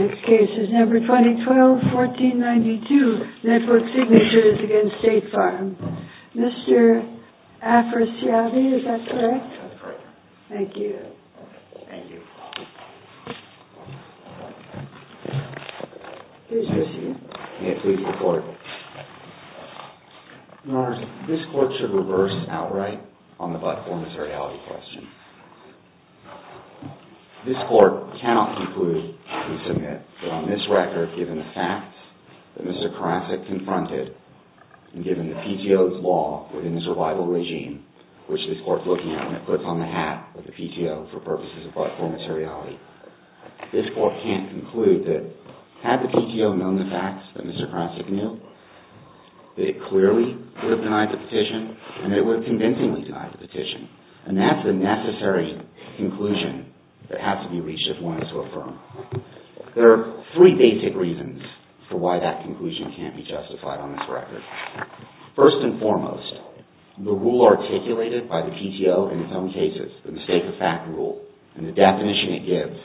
Next case is number 2012, 14th and 10th throughout Rosa Ozles. Next case is number combined 1392 network signatures against State Farms. Mr. Afersiallity is that correct? Yes, that is correct, and that is the necessary conclusion that has to be reached if one is to affirm. There are three basic reasons for why that conclusion can't be justified on this record. First and foremost, the rule articulated by the PTO in its own cases, the mistake of fact rule, and the definition it gives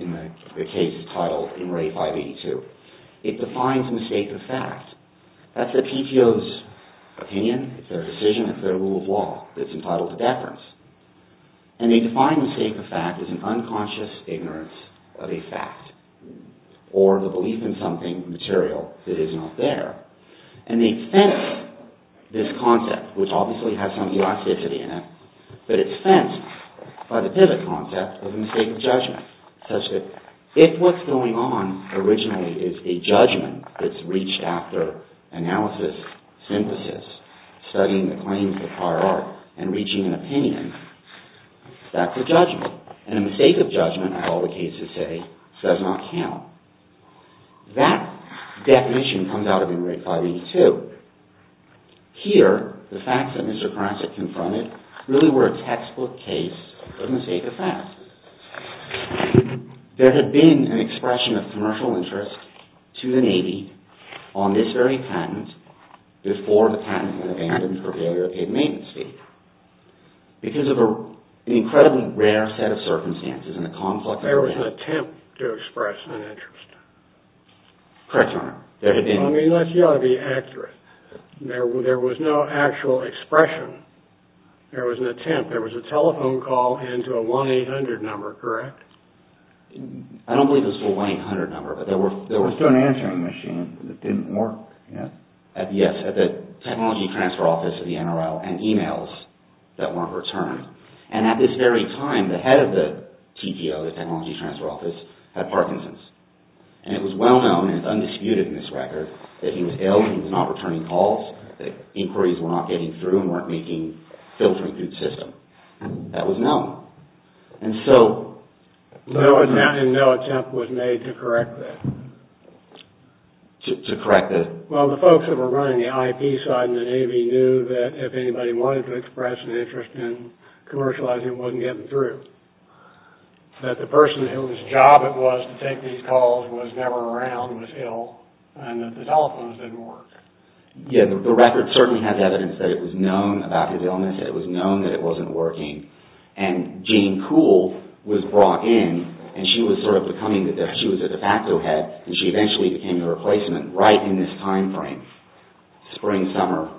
in the case entitled In Re 582, it defines mistake of fact. That's the PTO's opinion, it's their decision, it's their rule of law that's entitled to or the belief in something material that is not there. And they fence this concept, which obviously has some elasticity in it, but it's fenced by the pivot concept of a mistake of judgment, such that if what's going on originally is a judgment that's reached after analysis, synthesis, studying the claims of prior art and a mistake of judgment, as all the cases say, does not count. That definition comes out of In Re 582. Here, the facts that Mr. Karasik confronted really were a textbook case of mistake of fact. There had been an expression of commercial interest to the Navy on this very patent before the patent was abandoned for failure of paid maintenance fee. Because of an incredibly rare set of circumstances and the conflict... There was an attempt to express an interest. Correct, Your Honor. There had been... I mean, that's got to be accurate. There was no actual expression. There was an attempt. There was a telephone call into a 1-800 number, correct? I don't believe it was a 1-800 number, but there were... There was still an answering machine, but it didn't work. Yes, at the Technology Transfer Office of the NRL, and emails that weren't returned. And at this very time, the head of the TTO, the Technology Transfer Office, had Parkinson's. And it was well known, and it's undisputed in this record, that he was ill, he was not returning calls, that inquiries were not getting through and weren't filtering through the system. That was known. And so... And no attempt was made to correct that? To correct the... Well, the folks that were running the IP side in the Navy knew that if anybody wanted to express an interest in commercializing, it wasn't getting through. That the person whose job it was to take these calls was never around was ill, and that the telephones didn't work. Yeah, the record certainly has evidence that it was known about his illness, that it was known that it wasn't working. And Jean Kuhl was brought in, and she was sort of becoming the... She was a de facto head, and she eventually became the replacement right in this time frame. Spring, summer,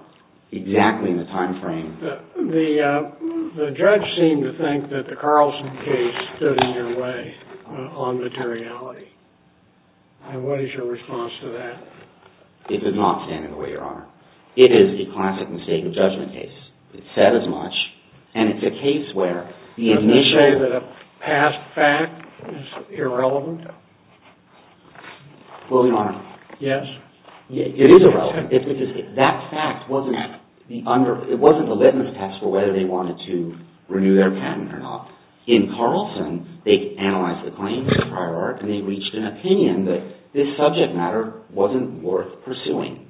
exactly in the time frame. The judge seemed to think that the Carlson case stood in your way on materiality. What is your response to that? It does not stand in the way, Your Honor. It is a classic mistake of judgment case. It's said as much, and it's a case where the initial... Well, Your Honor... Yes? It is irrelevant, because that fact wasn't... It wasn't the litmus test for whether they wanted to renew their patent or not. In Carlson, they analyzed the claims in the prior arc, and they reached an opinion that this subject matter wasn't worth pursuing.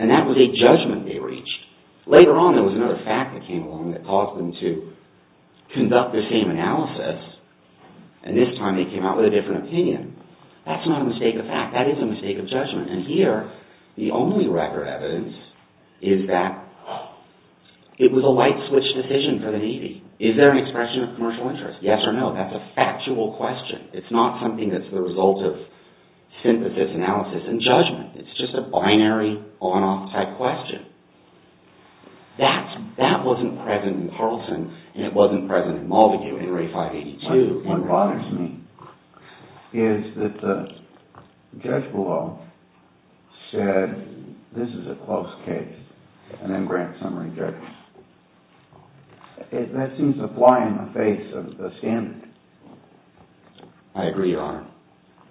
And that was a judgment they reached. Later on, there was another fact that came along that caused them to conduct the same opinion. That's not a mistake of fact. That is a mistake of judgment. And here, the only record evidence is that it was a light switch decision for the Navy. Is there an expression of commercial interest? Yes or no? That's a factual question. It's not something that's the result of synthesis, analysis, and judgment. It's just a binary on-off type question. That wasn't present in Carlson, and it wasn't present in Maldague in Ray 582. What bothers me is that the judge below said, this is a close case, and then grants summary judgment. That seems to fly in the face of the standard. I agree, Your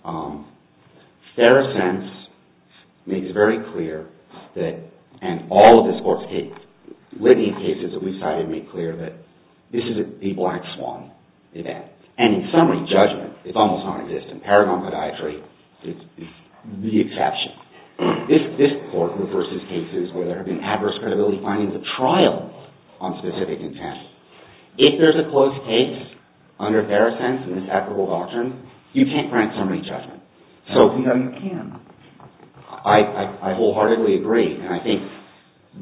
Honor. Fair Assents makes very clear that, and all of the sports cases, litany of cases that This is a Black Swan event. And in summary, judgment, it's almost non-existent. Paragon podiatry is the exception. This Court reverses cases where there have been adverse credibility findings of trial on specific intent. If there's a close case under Fair Assents and this applicable doctrine, you can't grant summary judgment. So, you know, you can. I wholeheartedly agree, and I think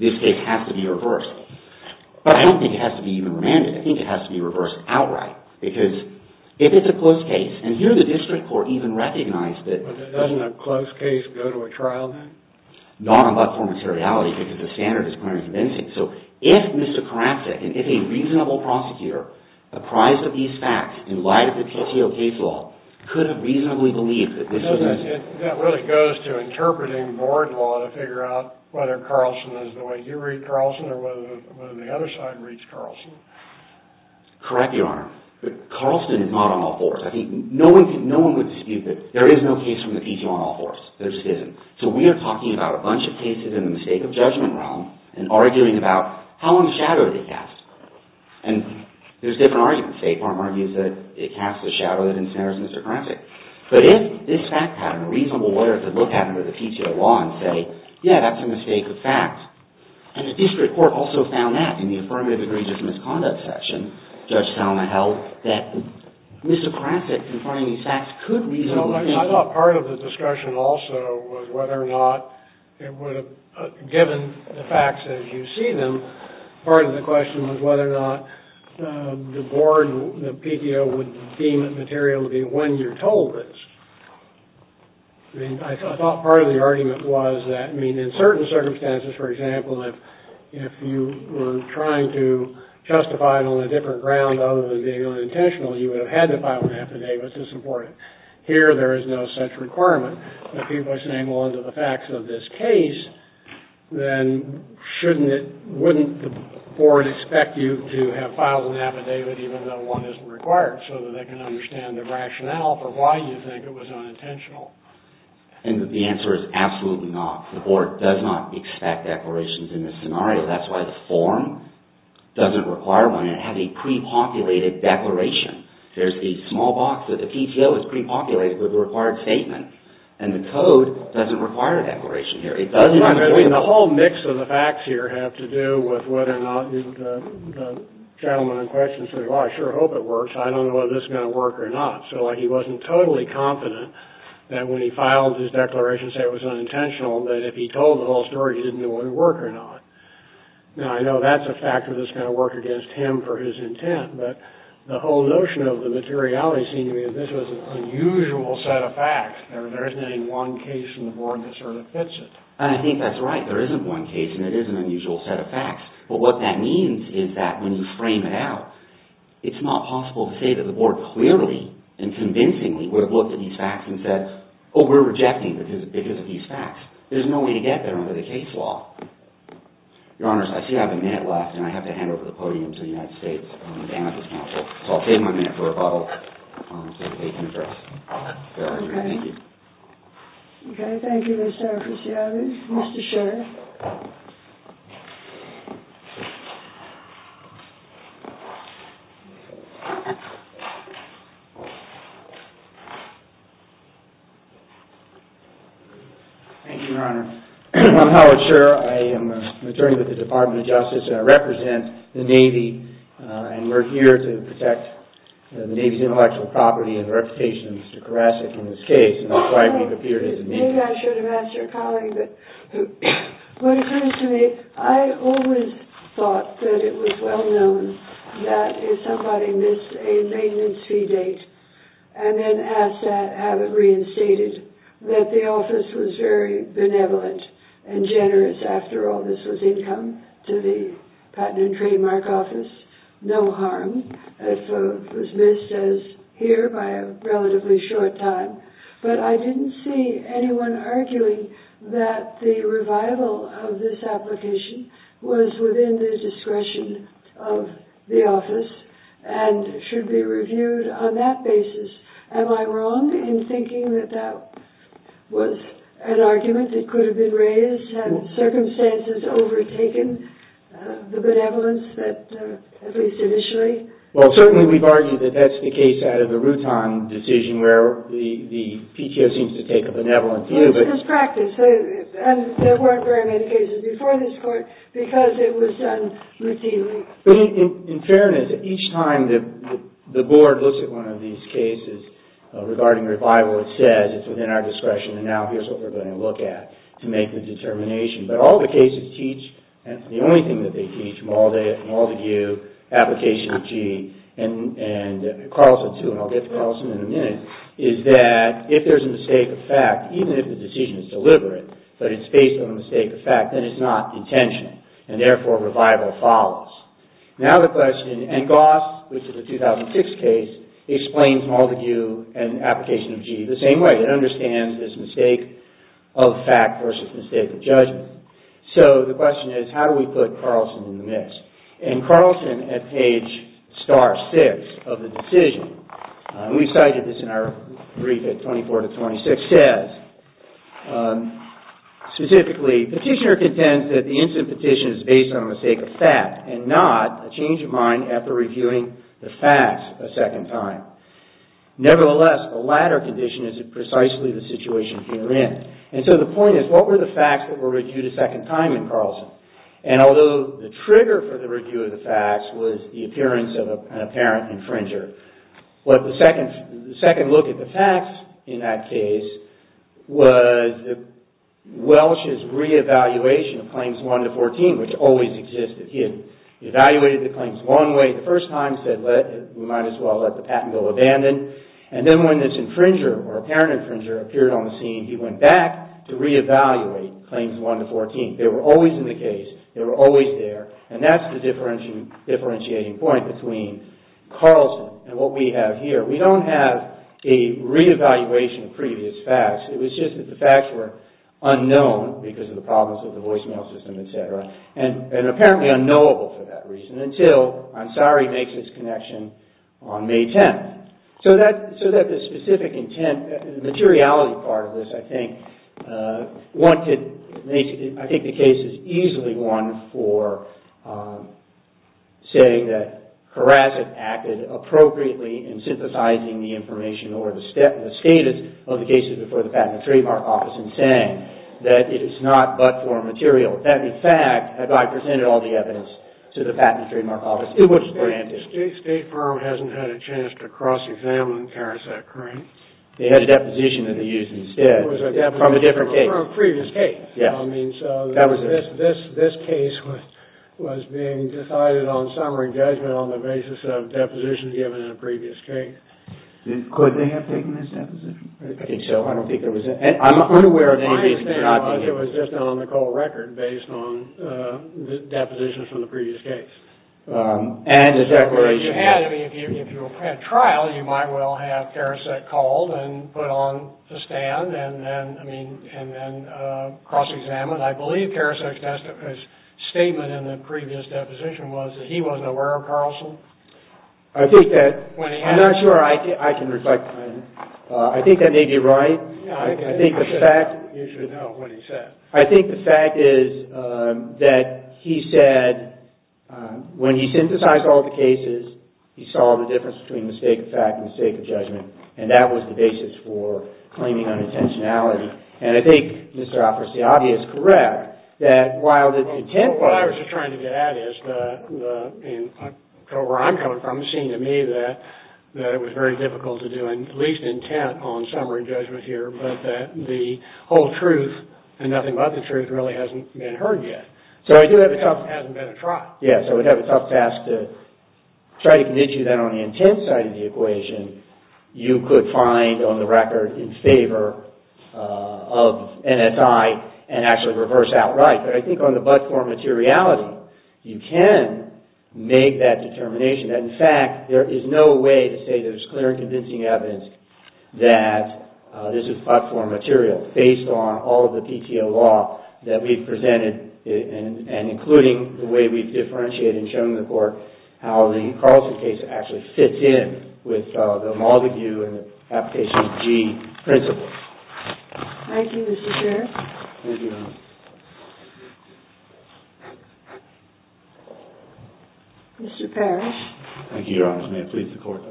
this case has to be reversed. But I don't think it has to be even remanded. I think it has to be reversed outright. Because if it's a close case, and here the district court even recognized that But doesn't a close case go to a trial then? Not on platform materiality because the standard is clear and convincing. So, if Mr. Karacek, and if a reasonable prosecutor, apprised of these facts in light of the PTO case law, could have reasonably believed that this was a That really goes to interpreting board law to figure out whether Carlson is the way you read Carlson or whether the other side reads Carlson. Correct, Your Honor. But Carlson is not on all fours. I think no one would dispute that there is no case from the PTO on all fours. There just isn't. So we are talking about a bunch of cases in the mistake of judgment realm and arguing about how in the shadow did they cast. And there's different arguments. State court argues that it casts a shadow that in some areas is misogynistic. But if this fact pattern, a reasonable lawyer could look at it under the PTO law and say, Yeah, that's a mistake of fact. And the district court also found that in the affirmative agreed misconduct section, Judge Thelma held, that Mr. Karacek, confirming these facts, could reasonably I thought part of the discussion also was whether or not it would have, given the facts as you see them, part of the question was whether or not the board and the PTO would deem the materiality when you're told it. I mean, I thought part of the argument was that, I mean, in certain circumstances, for example, if you were trying to justify it on a different ground other than being unintentional, you would have had to file an affidavit to support it. Here there is no such requirement. But people are saying, well, under the facts of this case, then shouldn't it, wouldn't the board expect you to have filed an affidavit even though one isn't required so that they can understand the rationale for why you think it was unintentional? And the answer is absolutely not. The board does not expect declarations in this scenario. That's why the form doesn't require one. It has a pre-populated declaration. There's the small box that the PTO has pre-populated with the required statement. And the code doesn't require a declaration here. It doesn't. I mean, the whole mix of the facts here have to do with whether or not the gentleman in charge, I don't know whether this is going to work or not. So he wasn't totally confident that when he filed his declaration, say it was unintentional, that if he told the whole story, he didn't know whether it would work or not. Now, I know that's a factor that's going to work against him for his intent. But the whole notion of the materiality seemed to me that this was an unusual set of facts. There isn't any one case in the board that sort of fits it. And I think that's right. There isn't one case, and it is an unusual set of facts. But what that means is that when you frame it out, it's not possible to say that the board clearly and convincingly would have looked at these facts and said, oh, we're rejecting because of these facts. There's no way to get there under the case law. Your Honor, I see I have a minute left, and I have to hand over the podium to the United States Amicus Council. So I'll take my minute for rebuttal. I'll take the case in address. Thank you. OK. Thank you, Mr. Officiato. Thank you, Mr. Sherr. Thank you, Your Honor. I'm Howard Sherr. I am an attorney with the Department of Justice, and I represent the Navy. And we're here to protect the Navy's intellectual property and reputation, Mr. Karasich, in this case. And that's why we've appeared as amicus. And maybe I should have asked your colleague, but what occurs to me, I always thought that it was well known that if somebody missed a maintenance fee date and then asked to have it reinstated, that the office was very benevolent and generous. After all, this was income to the Patent and Trademark Office, no harm. It was missed, as here, by a relatively short time. But I didn't see anyone arguing that the revival of this application was within the discretion of the office and should be reviewed on that basis. Am I wrong in thinking that that was an argument that could have been raised had circumstances overtaken the benevolence that, at least initially? Well, certainly, we've argued that that's the case out of the Rutan decision, where the PTO seems to take a benevolent view. Well, it's just practice. And there weren't very many cases before this court because it was done routinely. But in fairness, each time that the board looks at one of these cases regarding revival, it says it's within our discretion, and now here's what we're going to look at to make the determination. But all the cases teach, and it's the only thing that they teach from all of you, application of G and Carlson too, and I'll get to Carlson in a minute, is that if there's a mistake of fact, even if the decision is deliberate, but it's based on a mistake of fact, then it's not intentional. And therefore, revival follows. Now the question, and Goss, which is a 2006 case, explains Maldagu and application of G the same way. It understands this mistake of fact versus mistake of judgment. So the question is, how do we put Carlson in the mix? And Carlson, at page star six of the decision, and we cited this in our brief at 24 to 26, says, specifically, petitioner contends that the incident petition is based on a mistake of fact and not a change of mind after reviewing the facts a second time. Nevertheless, the latter condition is precisely the situation herein. And so the point is, what were the facts that were reviewed a second time in Carlson? And although the trigger for the review of the facts was the appearance of an apparent infringer, the second look at the facts in that case was Welsh's re-evaluation of Claims 1 to 14, which always existed. He had evaluated the claims one way the first time, said we might as well let the patent go abandoned. And then when this infringer, or apparent infringer, appeared on the scene, he went back to re-evaluate Claims 1 to 14. They were always in the case. They were always there. And that's the differentiating point between Carlson and what we have here. We don't have a re-evaluation of previous facts. It was just that the facts were unknown because of the problems with the voicemail system, et cetera, and apparently unknowable for that reason until Ansari makes its connection on May 10th. So that specific intent, the materiality part of this, I think, I think the case is easily one for saying that Karasich acted appropriately in synthesizing the information or the status of the cases before the Patent and Trademark Office in saying that it is not but for material. That in fact, had I presented all the evidence to the Patent and Trademark Office, it would have been granted. The state firm hasn't had a chance to cross-examine Karasich, correct? They had a deposition that they used instead from a different case. From a previous case. Yeah. I mean, so this case was being decided on summary judgment on the basis of depositions given in a previous case. Could they have taken this deposition? I think so. I don't think there was any. I'm unaware of any reason for not taking it. My understanding was it was just an on-the-call record based on the depositions from the previous case. And the declaration. If you had a trial, you might well have Karasich called and put on the stand and then cross-examined. I believe Karasich's statement in the previous deposition was that he wasn't aware of Carlson. I think that... When he had... I'm not sure I can reflect on it. I think that may be right. I think the fact... You should know what he said. I think the fact is that he said, when he synthesized all the cases, he saw the difference between mistake of fact and mistake of judgment. And that was the basis for claiming unintentionality. And I think, Mr. Alperciabi, is correct that while the intent was... What I was trying to get at is, from where I'm coming from, it seemed to me that it was very difficult to do at least intent on summary judgment here, but that the whole truth and nothing but the truth really hasn't been heard yet. So I do have a tough... It hasn't been a trial. Yes. I would have a tough task to try to convince you that on the intent side of the equation, you could find on the record in favor of NSI and actually reverse outright. But I think on the but-for materiality, you can make that determination. In fact, there is no way to say there's clear and convincing evidence that this is but-for material, based on all of the PTO law that we've presented, and including the way we've differentiated and shown the Court how the Carlson case actually fits in with the Maldague and the application of G principles. Thank you, Mr. Sheriff. Thank you, Your Honor. Mr. Parrish. Thank you, Your Honor. May it please the Court.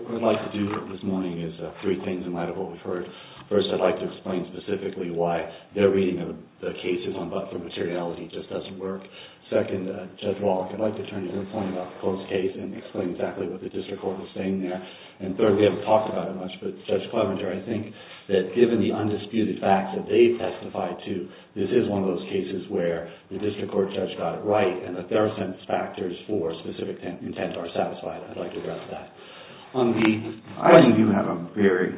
First, I'd like to explain specifically why their reading of the cases on but-for materiality just doesn't work. Second, Judge Wallach, I'd like to turn to your point about the Coase case and explain exactly what the District Court was saying there. And third, we haven't talked about it much, but Judge Clevenger, I think that given the undisputed facts that they testified to, this is one of those cases where the District Court judge got it right and that their sentence factors for a specific intent are satisfied. I'd like to address that. I think you have a very,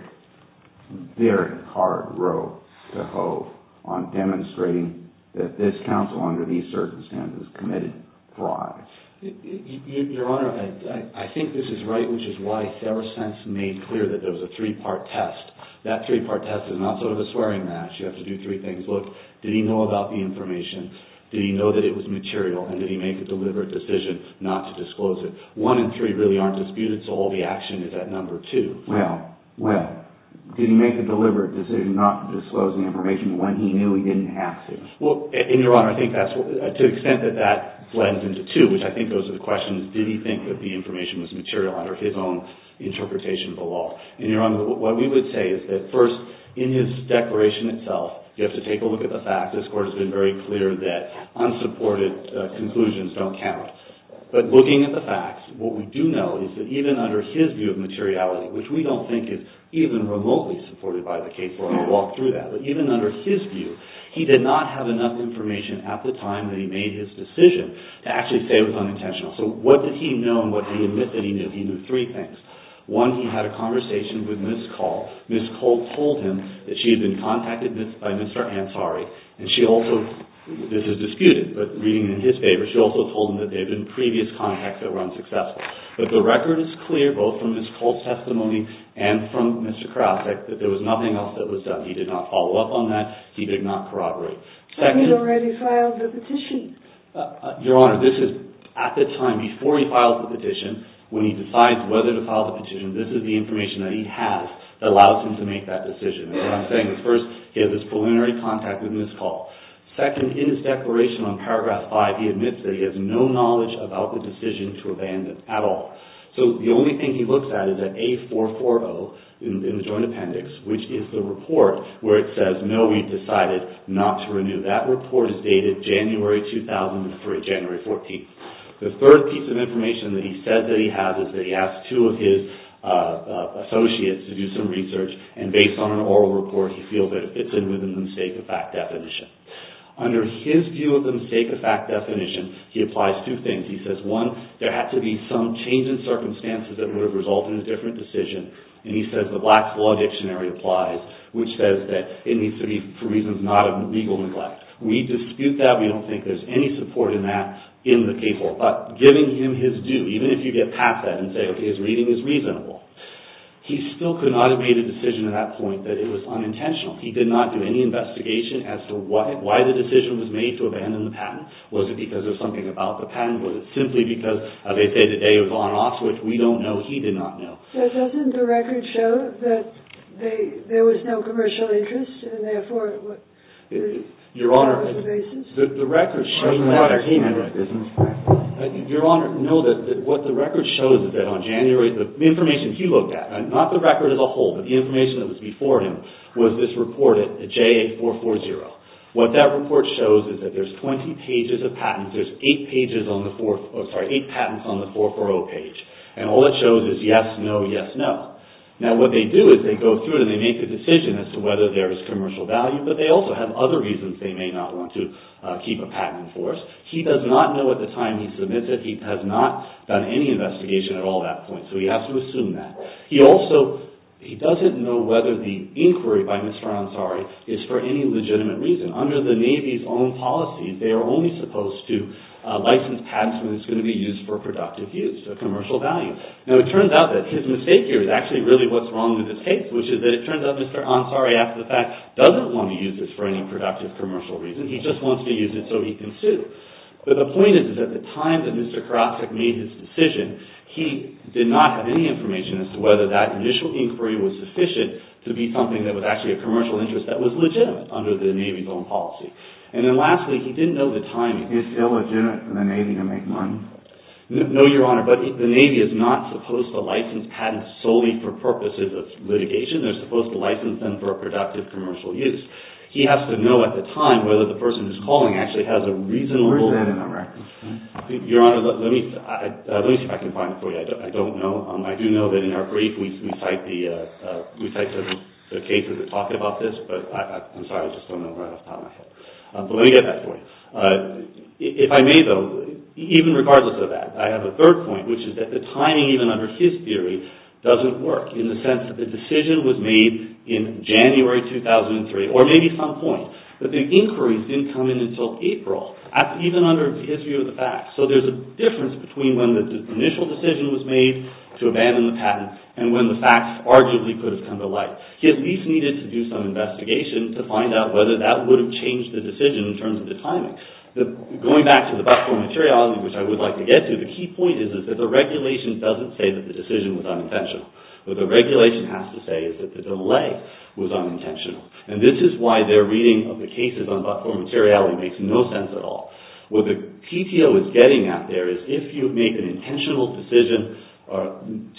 very hard road to hoe on demonstrating that this counsel under these circumstances committed fraud. Your Honor, I think this is right, which is why Fair Sense made clear that there was a three-part test. That three-part test is not sort of a swearing match. You have to do three things. Look, did he know about the information? Did he know that it was material? And did he make a deliberate decision not to disclose it? One and three really aren't disputed, so all the action is at number two. Well, well, did he make a deliberate decision not to disclose the information when he knew he didn't have to? Well, and Your Honor, I think that's, to the extent that that blends into two, which I think goes to the question, did he think that the information was material under his own interpretation of the law? And Your Honor, what we would say is that first, in his declaration itself, you have to take a look at the facts. This Court has been very clear that unsupported conclusions don't count. But looking at the facts, what we do know is that even under his view of materiality, which we don't think is even remotely supported by the case law, we'll walk through that, but even under his view, he did not have enough information at the time that he made his decision to actually say it was unintentional. So what did he know and what did he admit that he knew? He knew three things. One, he had a conversation with Ms. Cole. Ms. Cole told him that she had been contacted by Mr. Ansari, and she also, this is disputed, but reading it in his favor, she also told him that there had been previous contacts that were unsuccessful. But the record is clear, both from Ms. Cole's testimony and from Mr. Krausek, that there was nothing else that was done. He did not follow up on that. He did not corroborate. But he'd already filed the petition. Your Honor, this is at the time before he filed the petition, when he decides whether to file the petition, this is the information that he has that allows him to make that decision. And what I'm saying is, first, he had this preliminary contact with Ms. Cole. Second, in his declaration on paragraph five, he admits that he has no knowledge about the decision to abandon at all. So the only thing he looks at is that A440 in the joint appendix, which is the report where it says, no, we've decided not to renew. That report is dated January 2003, January 14th. The third piece of information that he said that he has is that he asked two of his associates to do some research, and based on an oral report, he feels that it fits in with the mistake-of-fact definition. Under his view of the mistake-of-fact definition, he applies two things. He says, one, there had to be some change in circumstances that would have resulted in a different decision. And he says the Black's Law Dictionary applies, which says that it needs to be for reasons not of legal neglect. We dispute that. We don't think there's any support in that in the K-4. But giving him his due, even if you get past that and say, OK, his reading is reasonable, he still could not have made a decision at that point that it was unintentional. He did not do any investigation as to why the decision was made to abandon the patent. Was it because there's something about the patent? Was it simply because of a day-to-day of on-off, which we don't know, he did not know. So doesn't the record show that there was no commercial interest, and therefore, it was a basis? Your Honor, the record shows that. Your Honor, no, what the record shows is that on January, the information he looked at, not the record as a whole, but the information that was before him, was this report at JA-440. What that report shows is that there's 20 pages of patents. There's eight patents on the 440 page. And all it shows is yes, no, yes, no. Now, what they do is they go through it and they make a decision as to whether there is commercial value, but they also have other reasons they may not want to keep a patent for us. He does not know at the time he submits it. He has not done any investigation at all at that point, so he has to assume that. He also, he doesn't know whether the inquiry by Mr. Ansari is for any legitimate reason. Under the Navy's own policies, they are only supposed to license patents when it's going to be used for productive use, a commercial value. Now, it turns out that his mistake here is actually really what's wrong with his case, which is that it turns out Mr. Ansari, after the fact, doesn't want to use this for any productive, commercial reason. He just wants to use it so he can sue. But the point is, is at the time that Mr. Karasek made his decision, he did not have any information as to whether that initial inquiry was sufficient to be something that was actually a commercial interest that was legitimate under the Navy's own policy. And then lastly, he didn't know the timing. Is it illegitimate for the Navy to make money? No, Your Honor, but the Navy is not supposed to license patents solely for purposes of litigation. They're supposed to license them for productive, commercial use. He has to know at the time whether the person who's calling actually has a reasonable... Where is that in the record? Your Honor, let me see if I can find it for you. I don't know. I do know that in our brief we cite the cases that talk about this, but I'm sorry, I just don't know where I left off. But let me get that for you. If I may, though, even regardless of that, I have a third point, which is that the timing, even under his theory, doesn't work in the sense that the decision was made in January 2003, or maybe some point, but the inquiries didn't come in until April, even under his view of the facts. So there's a difference between when the initial decision was made to abandon the patent and when the facts arguably could have come to light. He at least needed to do some investigation to find out whether that would have changed the decision in terms of the timing. Going back to the but-for materiality, which I would like to get to, the key point is that the regulation doesn't say that the decision was unintentional. What the regulation has to say is that the delay was unintentional. And this is why their reading of the cases on but-for materiality makes no sense at all. What the PTO is getting at there is if you make an intentional decision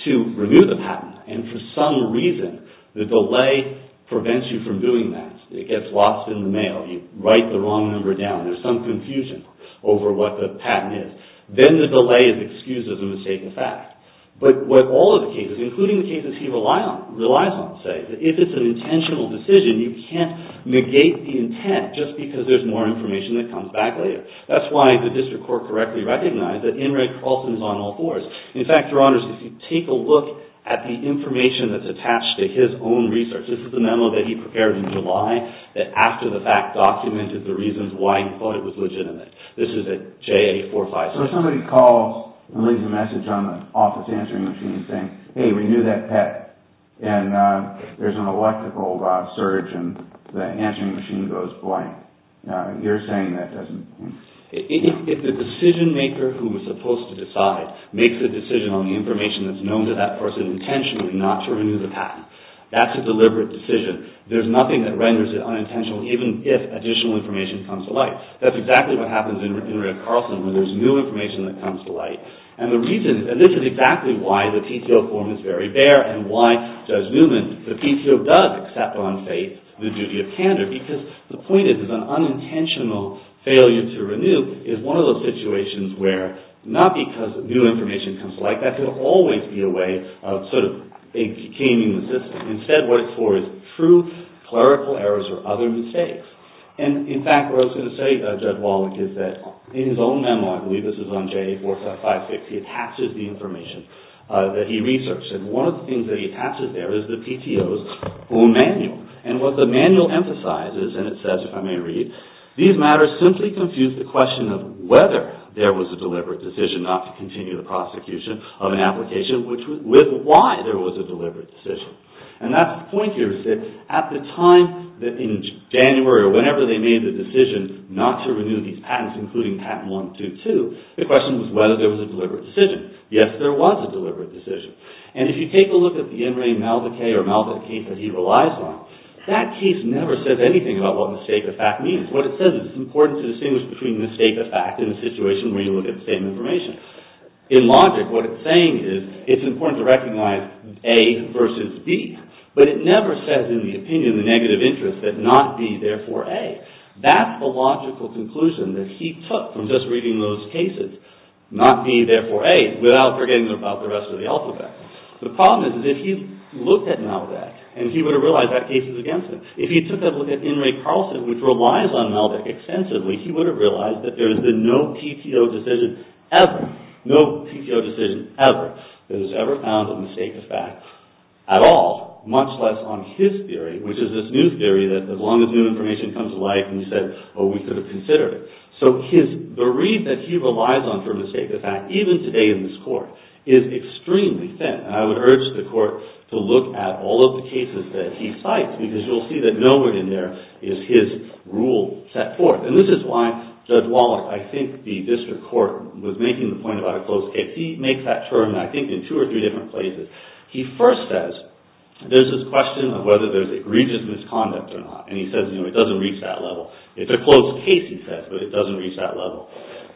to renew the patent, and for some reason the delay prevents you from doing that, it gets lost in the mail, you write the wrong number down, there's some confusion over what the patent is, then the delay is excused as a mistake in fact. But what all of the cases, including the cases he relies on, say, if it's an intentional decision, you can't negate the intent just because there's more information that comes back later. That's why the district court correctly recognized that NREG often is on all fours. In fact, Your Honors, if you take a look at the information that's attached to his own research, this is the memo that he prepared in July, that after the fact documented the reasons why he thought it was legitimate. This is at JA 456. So if somebody calls and leaves a message on the office answering machine saying, hey, renew that pet, and there's an electrical surge and the answering machine goes blank, you're saying that doesn't... If the decision maker who was supposed to decide makes a decision on the information that's known to that person intentionally not to renew the patent, that's a deliberate decision. There's nothing that renders it unintentional even if additional information comes to light. That's exactly what happens in NREG Carlson when there's new information that comes to light. And the reason, and this is exactly why the PTO form is very bare and why Judge Newman, the PTO does accept on faith the duty of candor because the point is that an unintentional failure to renew is one of those situations where, not because new information comes to light, that could always be a way of sort of caning the system. Instead, what it's for is true clerical errors or other mistakes. And, in fact, what I was going to say, Judge Walwick, is that in his own memo, I believe this was on JA 456, he attaches the information that he researched. And one of the things that he attaches there is the PTO's own manual. And what the manual emphasizes, and it says, if I may read, these matters simply confuse the question of whether there was a deliberate decision not to continue the prosecution of an application with why there was a deliberate decision. And that point here is that at the time in January or whenever they made the decision not to renew these patents, including patent 122, the question was whether there was a deliberate decision. Yes, there was a deliberate decision. And if you take a look at the In Re Malvocate or Malvocate that he relies on, that case never says anything about what mistake of fact means. What it says is it's important to distinguish between mistake of fact and a situation where you look at the same information. In logic, what it's saying is it's important to recognize A versus B. But it never says in the opinion, the negative interest, that not B, therefore A. That's the logical conclusion that he took from just reading those cases, not B, therefore A, without forgetting about the rest of the alphabet. The problem is if he looked at Malvocate, and he would have realized that case is against him. If he took a look at In Re Carlson, which relies on Malvocate extensively, he would have realized that there has been no PTO decision ever, no PTO decision ever, that has ever found a mistake of fact at all, much less on his theory, which is this new theory that as long as new information comes to light, he said, oh, we could have considered it. So the read that he relies on for mistake of fact, even today in this court, is extremely thin. I would urge the court to look at all of the cases that he cites, because you'll see that nowhere in there is his rule set forth. And this is why Judge Wallach, I think the district court, was making the point about a closed case. He makes that term, I think, in two or three different places. He first says, there's this question of whether there's egregious misconduct or not. And he says, you know, it doesn't reach that level. It's a closed case, he says, but it doesn't reach that level.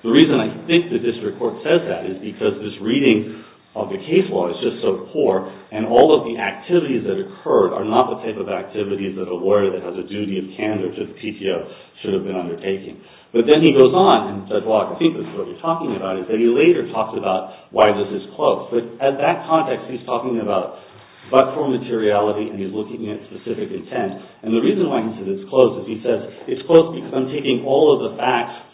The reason I think the district court says that is because this reading of the case law is just so poor, and all of the activities that occurred are not the type of activities that a lawyer that has a duty of candor to the PTO should have been undertaking. But then he goes on, and Judge Wallach, I think this is what you're talking about, is that he later talks about why this is closed. But at that context, he's talking about but-for materiality, and he's looking at specific intent. And the reason why he says it's closed is he says, it's closed because I'm taking all of the facts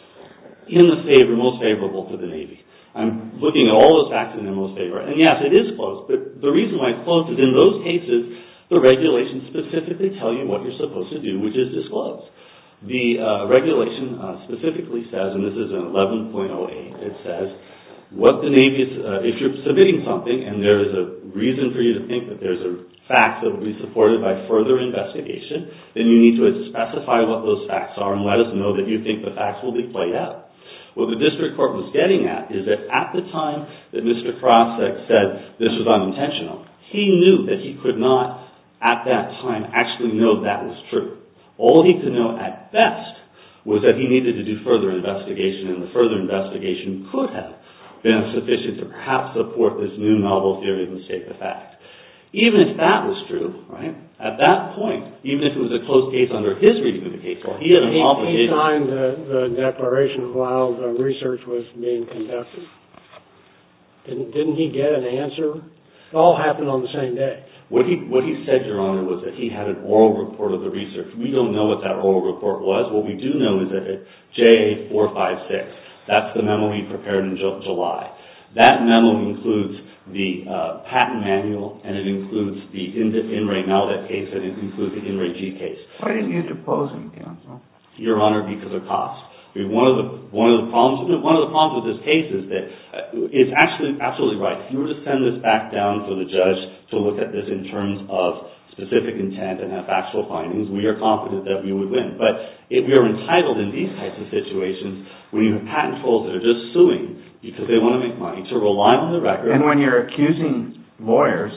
in the favor, most favorable to the Navy. I'm looking at all the facts in their most favor. And yes, it is closed. But the reason why it's closed is in those cases, the regulations specifically tell you what you're supposed to do, which is disclose. The regulation specifically says, and this is in 11.08, it says, if you're submitting something, and there is a reason for you to think that there's a fact that will be supported by further investigation, then you need to specify what those facts are and let us know that you think the facts will be played out. What the district court was getting at is that at the time that Mr. Krasick said this was unintentional, he knew that he could not, at that time, actually know that was true. All he could know at best was that he needed to do further investigation, and the further investigation could have been sufficient to perhaps support this new novel theory of the state of the fact. Even if that was true, right, at that point, even if it was a closed case under his reading of the case law, he had an obligation. He signed the declaration that allowed research was being conducted. Didn't he get an answer? It all happened on the same day. What he said, Your Honor, was that he had an oral report of the research. We don't know what that oral report was. What we do know is that it's JA456. That's the memo he prepared in July. That memo includes the patent manual, and it includes the in-ray malibu case, and it includes the in-ray G case. Why didn't you depose him, counsel? Your Honor, because of cost. One of the problems with this case is that it's actually absolutely right. If you were to send this back down for the judge to look at this in terms of specific intent and have factual findings, we are confident that we would win. But if we are entitled in these types of situations, when you have patent tools that are just suing because they want to make money, to rely on the record... And when you're accusing lawyers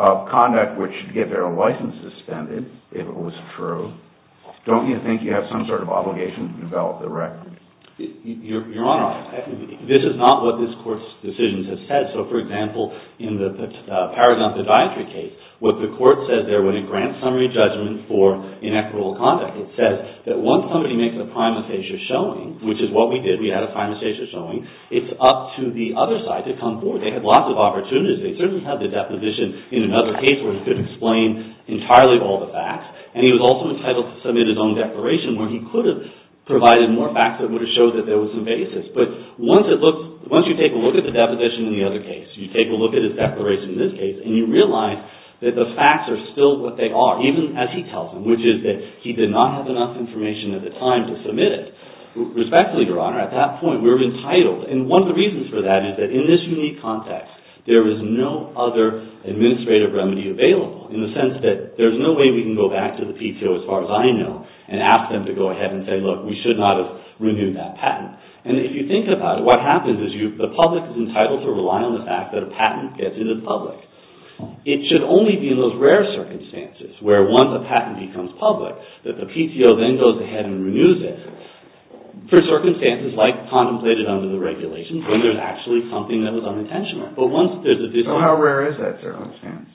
of conduct which should get their licenses suspended, if it was true, don't you think you have some sort of obligation to develop the record? Your Honor, this is not what this Court's decisions have said. So, for example, in the Paragons of Dietary case, what the Court said there when it grants summary judgment for inequitable conduct, it says that once somebody makes a primataceous showing, which is what we did, we had a primataceous showing, it's up to the other side to come forward. They had lots of opportunities. They certainly had the deposition in another case where he could explain entirely all the facts. And he was also entitled to submit his own declaration where he could have provided more facts that would have showed that there was some basis. But once you take a look at the deposition in the other case, you take a look at his declaration in this case, and you realize that the facts are still what they are, even as he tells them, which is that he did not have enough information at the time to submit it. Respectfully, Your Honor, at that point, we were entitled. And one of the reasons for that is that in this unique context, there is no other administrative remedy available in the sense that there's no way we can go back to the PTO, as far as I know, and ask them to go ahead and say, look, we should not have renewed that patent. And if you think about it, what happens is the public is entitled to rely on the fact that a patent gets into the public. It should only be in those rare circumstances, where once a patent becomes public, that the PTO then goes ahead and renews it, for circumstances like contemplated under the regulations, when there's actually something that was unintentional. But once there's a disposition... So how rare is that circumstance?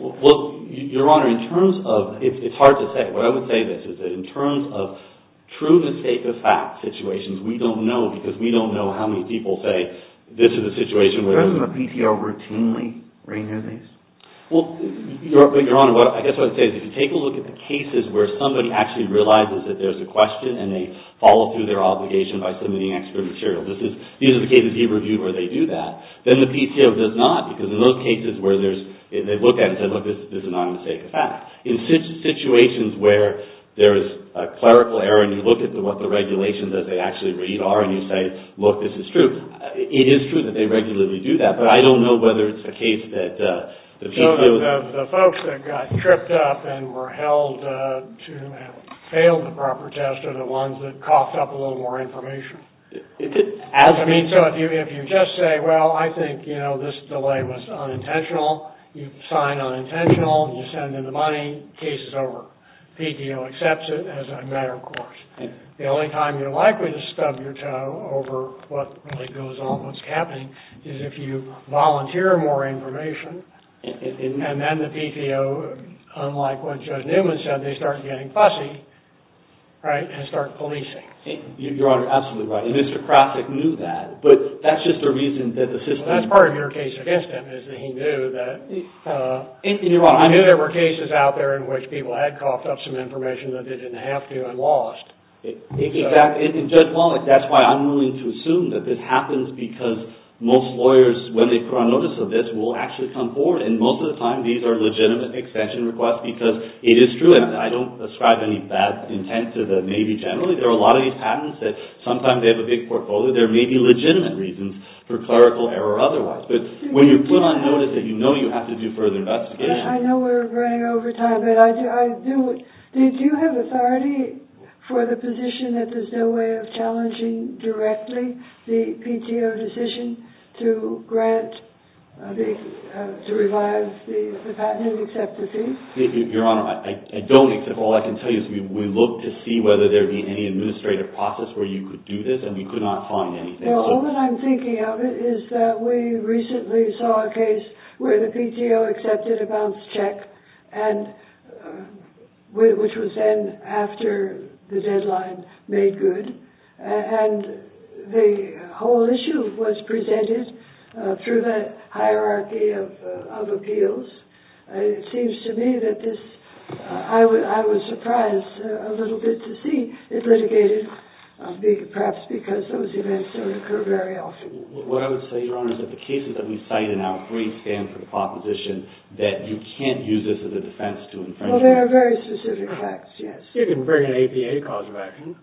Well, Your Honor, in terms of... It's hard to say. What I would say is that in terms of true mistake of fact situations, we don't know because we don't know how many people say this is a situation where... Well, Your Honor, I guess what I would say is if you take a look at the cases where somebody actually realizes that there's a question and they follow through their obligation by submitting extra material. These are the cases we review where they do that. Then the PTO does not because in those cases where they look at it and say, look, this is an unmistakable fact. In situations where there is a clerical error and you look at what the regulations that they actually read are and you say, look, this is true, it is true that they regularly do that. I don't know whether it's a case that the PTO... The folks that got tripped up and were held to have failed the proper test are the ones that coughed up a little more information. Is it... I mean, so if you just say, well, I think this delay was unintentional. You sign unintentional and you send in the money. Case is over. PTO accepts it as a matter of course. The only time you're likely to stub your toe over what really goes on, what's happening is if you volunteer more information and then the PTO, unlike what Judge Newman said, they start getting fussy, right, and start policing. Your Honor, absolutely right. And Mr. Krasick knew that, but that's just the reason that the system... That's part of your case against him is that he knew that... Your Honor... He knew there were cases out there in which people had coughed up some information that they didn't have to and lost. In fact, in Judge Wallace, that's why I'm willing to assume that this happens because most lawyers, when they put on notice of this, will actually come forward. And most of the time, these are legitimate extension requests because it is true. And I don't ascribe any bad intent to the Navy generally. There are a lot of these patents that sometimes they have a big portfolio. There may be legitimate reasons for clerical error otherwise. But when you put on notice that you know you have to do further investigation... I know we're running over time, but I do... Did you have authority for the position that there's no way of challenging directly the PTO decision to grant the...to revive the patent and accept the fee? Your Honor, I don't accept... All I can tell you is we looked to see whether there'd be any administrative process where you could do this, and we could not find anything. Well, all that I'm thinking of is that we recently saw a case where the PTO accepted a balance check, which was then, after the deadline, made good. And the whole issue was presented through the hierarchy of appeals. It seems to me that this...I was surprised a little bit to see it litigated, perhaps because those events don't occur very often. What I would say, Your Honor, is that the cases that we cite in our brief stand for the proposition that you can't use this as a defense to... Well, there are very specific facts, yes. You can bring an APA cause of action.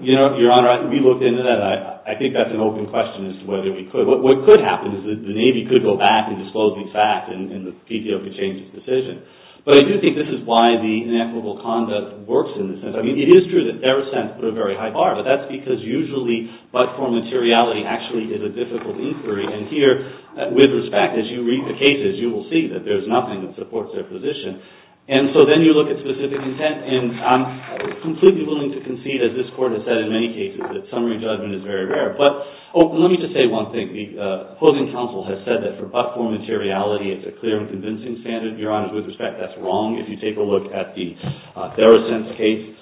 You know, Your Honor, we looked into that. I think that's an open question as to whether we could. What could happen is that the Navy could go back and disclose these facts, and the PTO could change its decision. But I do think this is why the inequitable conduct works in this sense. I mean, it is true that Deresent put a very high bar, but that's because usually but-for materiality actually is a difficult inquiry. And here, with respect, as you read the cases, you will see that there's nothing that supports their position. And so then you look at specific intent. And I'm completely willing to concede, as this Court has said in many cases, that summary judgment is very rare. But let me just say one thing. The opposing counsel has said that for but-for materiality, it's a clear and convincing standard. Your Honor, with respect, that's wrong. If you take a look at the Deresent case,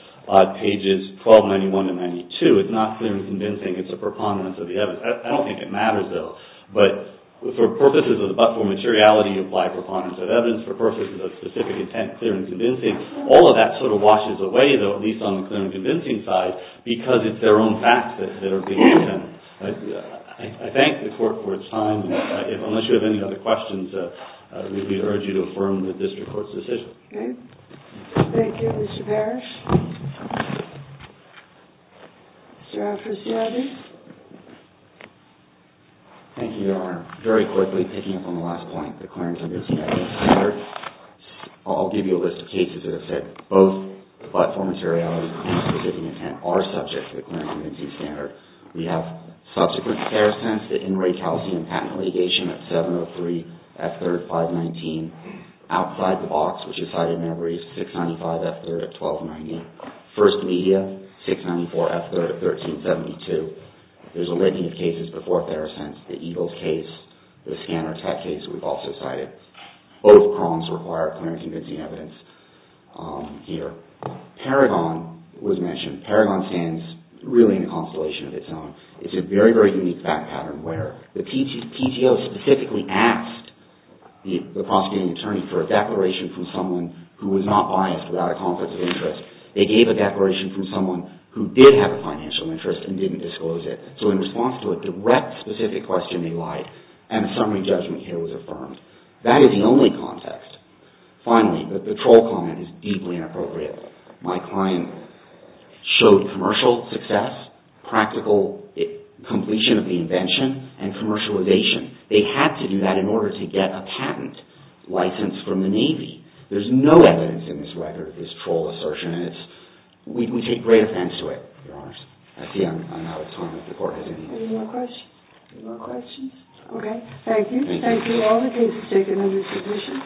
pages 1291 to 92, it's not clear and convincing. It's a preponderance of the evidence. I don't think it matters, though. But for purposes of the but-for materiality, you apply preponderance of evidence. For purposes of specific intent, clear and convincing. All of that sort of washes away, though, at least on the clear and convincing side, because it's their own facts that are being used. And I thank the Court for its time. Unless you have any other questions, we urge you to affirm the district court's decision. Okay. Thank you, Mr. Parrish. Mr. Alfres-Giardi? Thank you, Your Honor. Very quickly, picking up on the last point, the clear and convincing standard, I'll give you a list of cases that have said both the but-for materiality and specific intent are subject to the clear and convincing standard. We have subsequent Pherasense, the in-ray calcium patent litigation at 703 F3, 519. Outside the box, which is cited in every 695 F3 at 1290. First media, 694 F3 at 1372. There's a linking of cases before Pherasense. The Eagles case, the scanner tech case we've also cited. Both prongs require clear and convincing evidence here. Paragon was mentioned. Paragon stands really in a constellation of its own. It's a very, very unique fact pattern where the PTO specifically asked the prosecuting attorney for a declaration from someone who was not biased without a conflict of interest. They gave a declaration from someone who did have a financial interest and didn't disclose it. So in response to a direct specific question, they lied. And a summary judgment here was affirmed. That is the only context. Finally, the patrol comment is deeply inappropriate. My client showed commercial success, practical completion of the invention, and commercialization. They had to do that in order to get a patent license from the Navy. There's no evidence in this record of this patrol assertion. We take great offense to it, Your Honors. I see I'm out of time if the Court has any. Any more questions? Any more questions? Okay. Thank you. Thank you. All the cases taken in this position.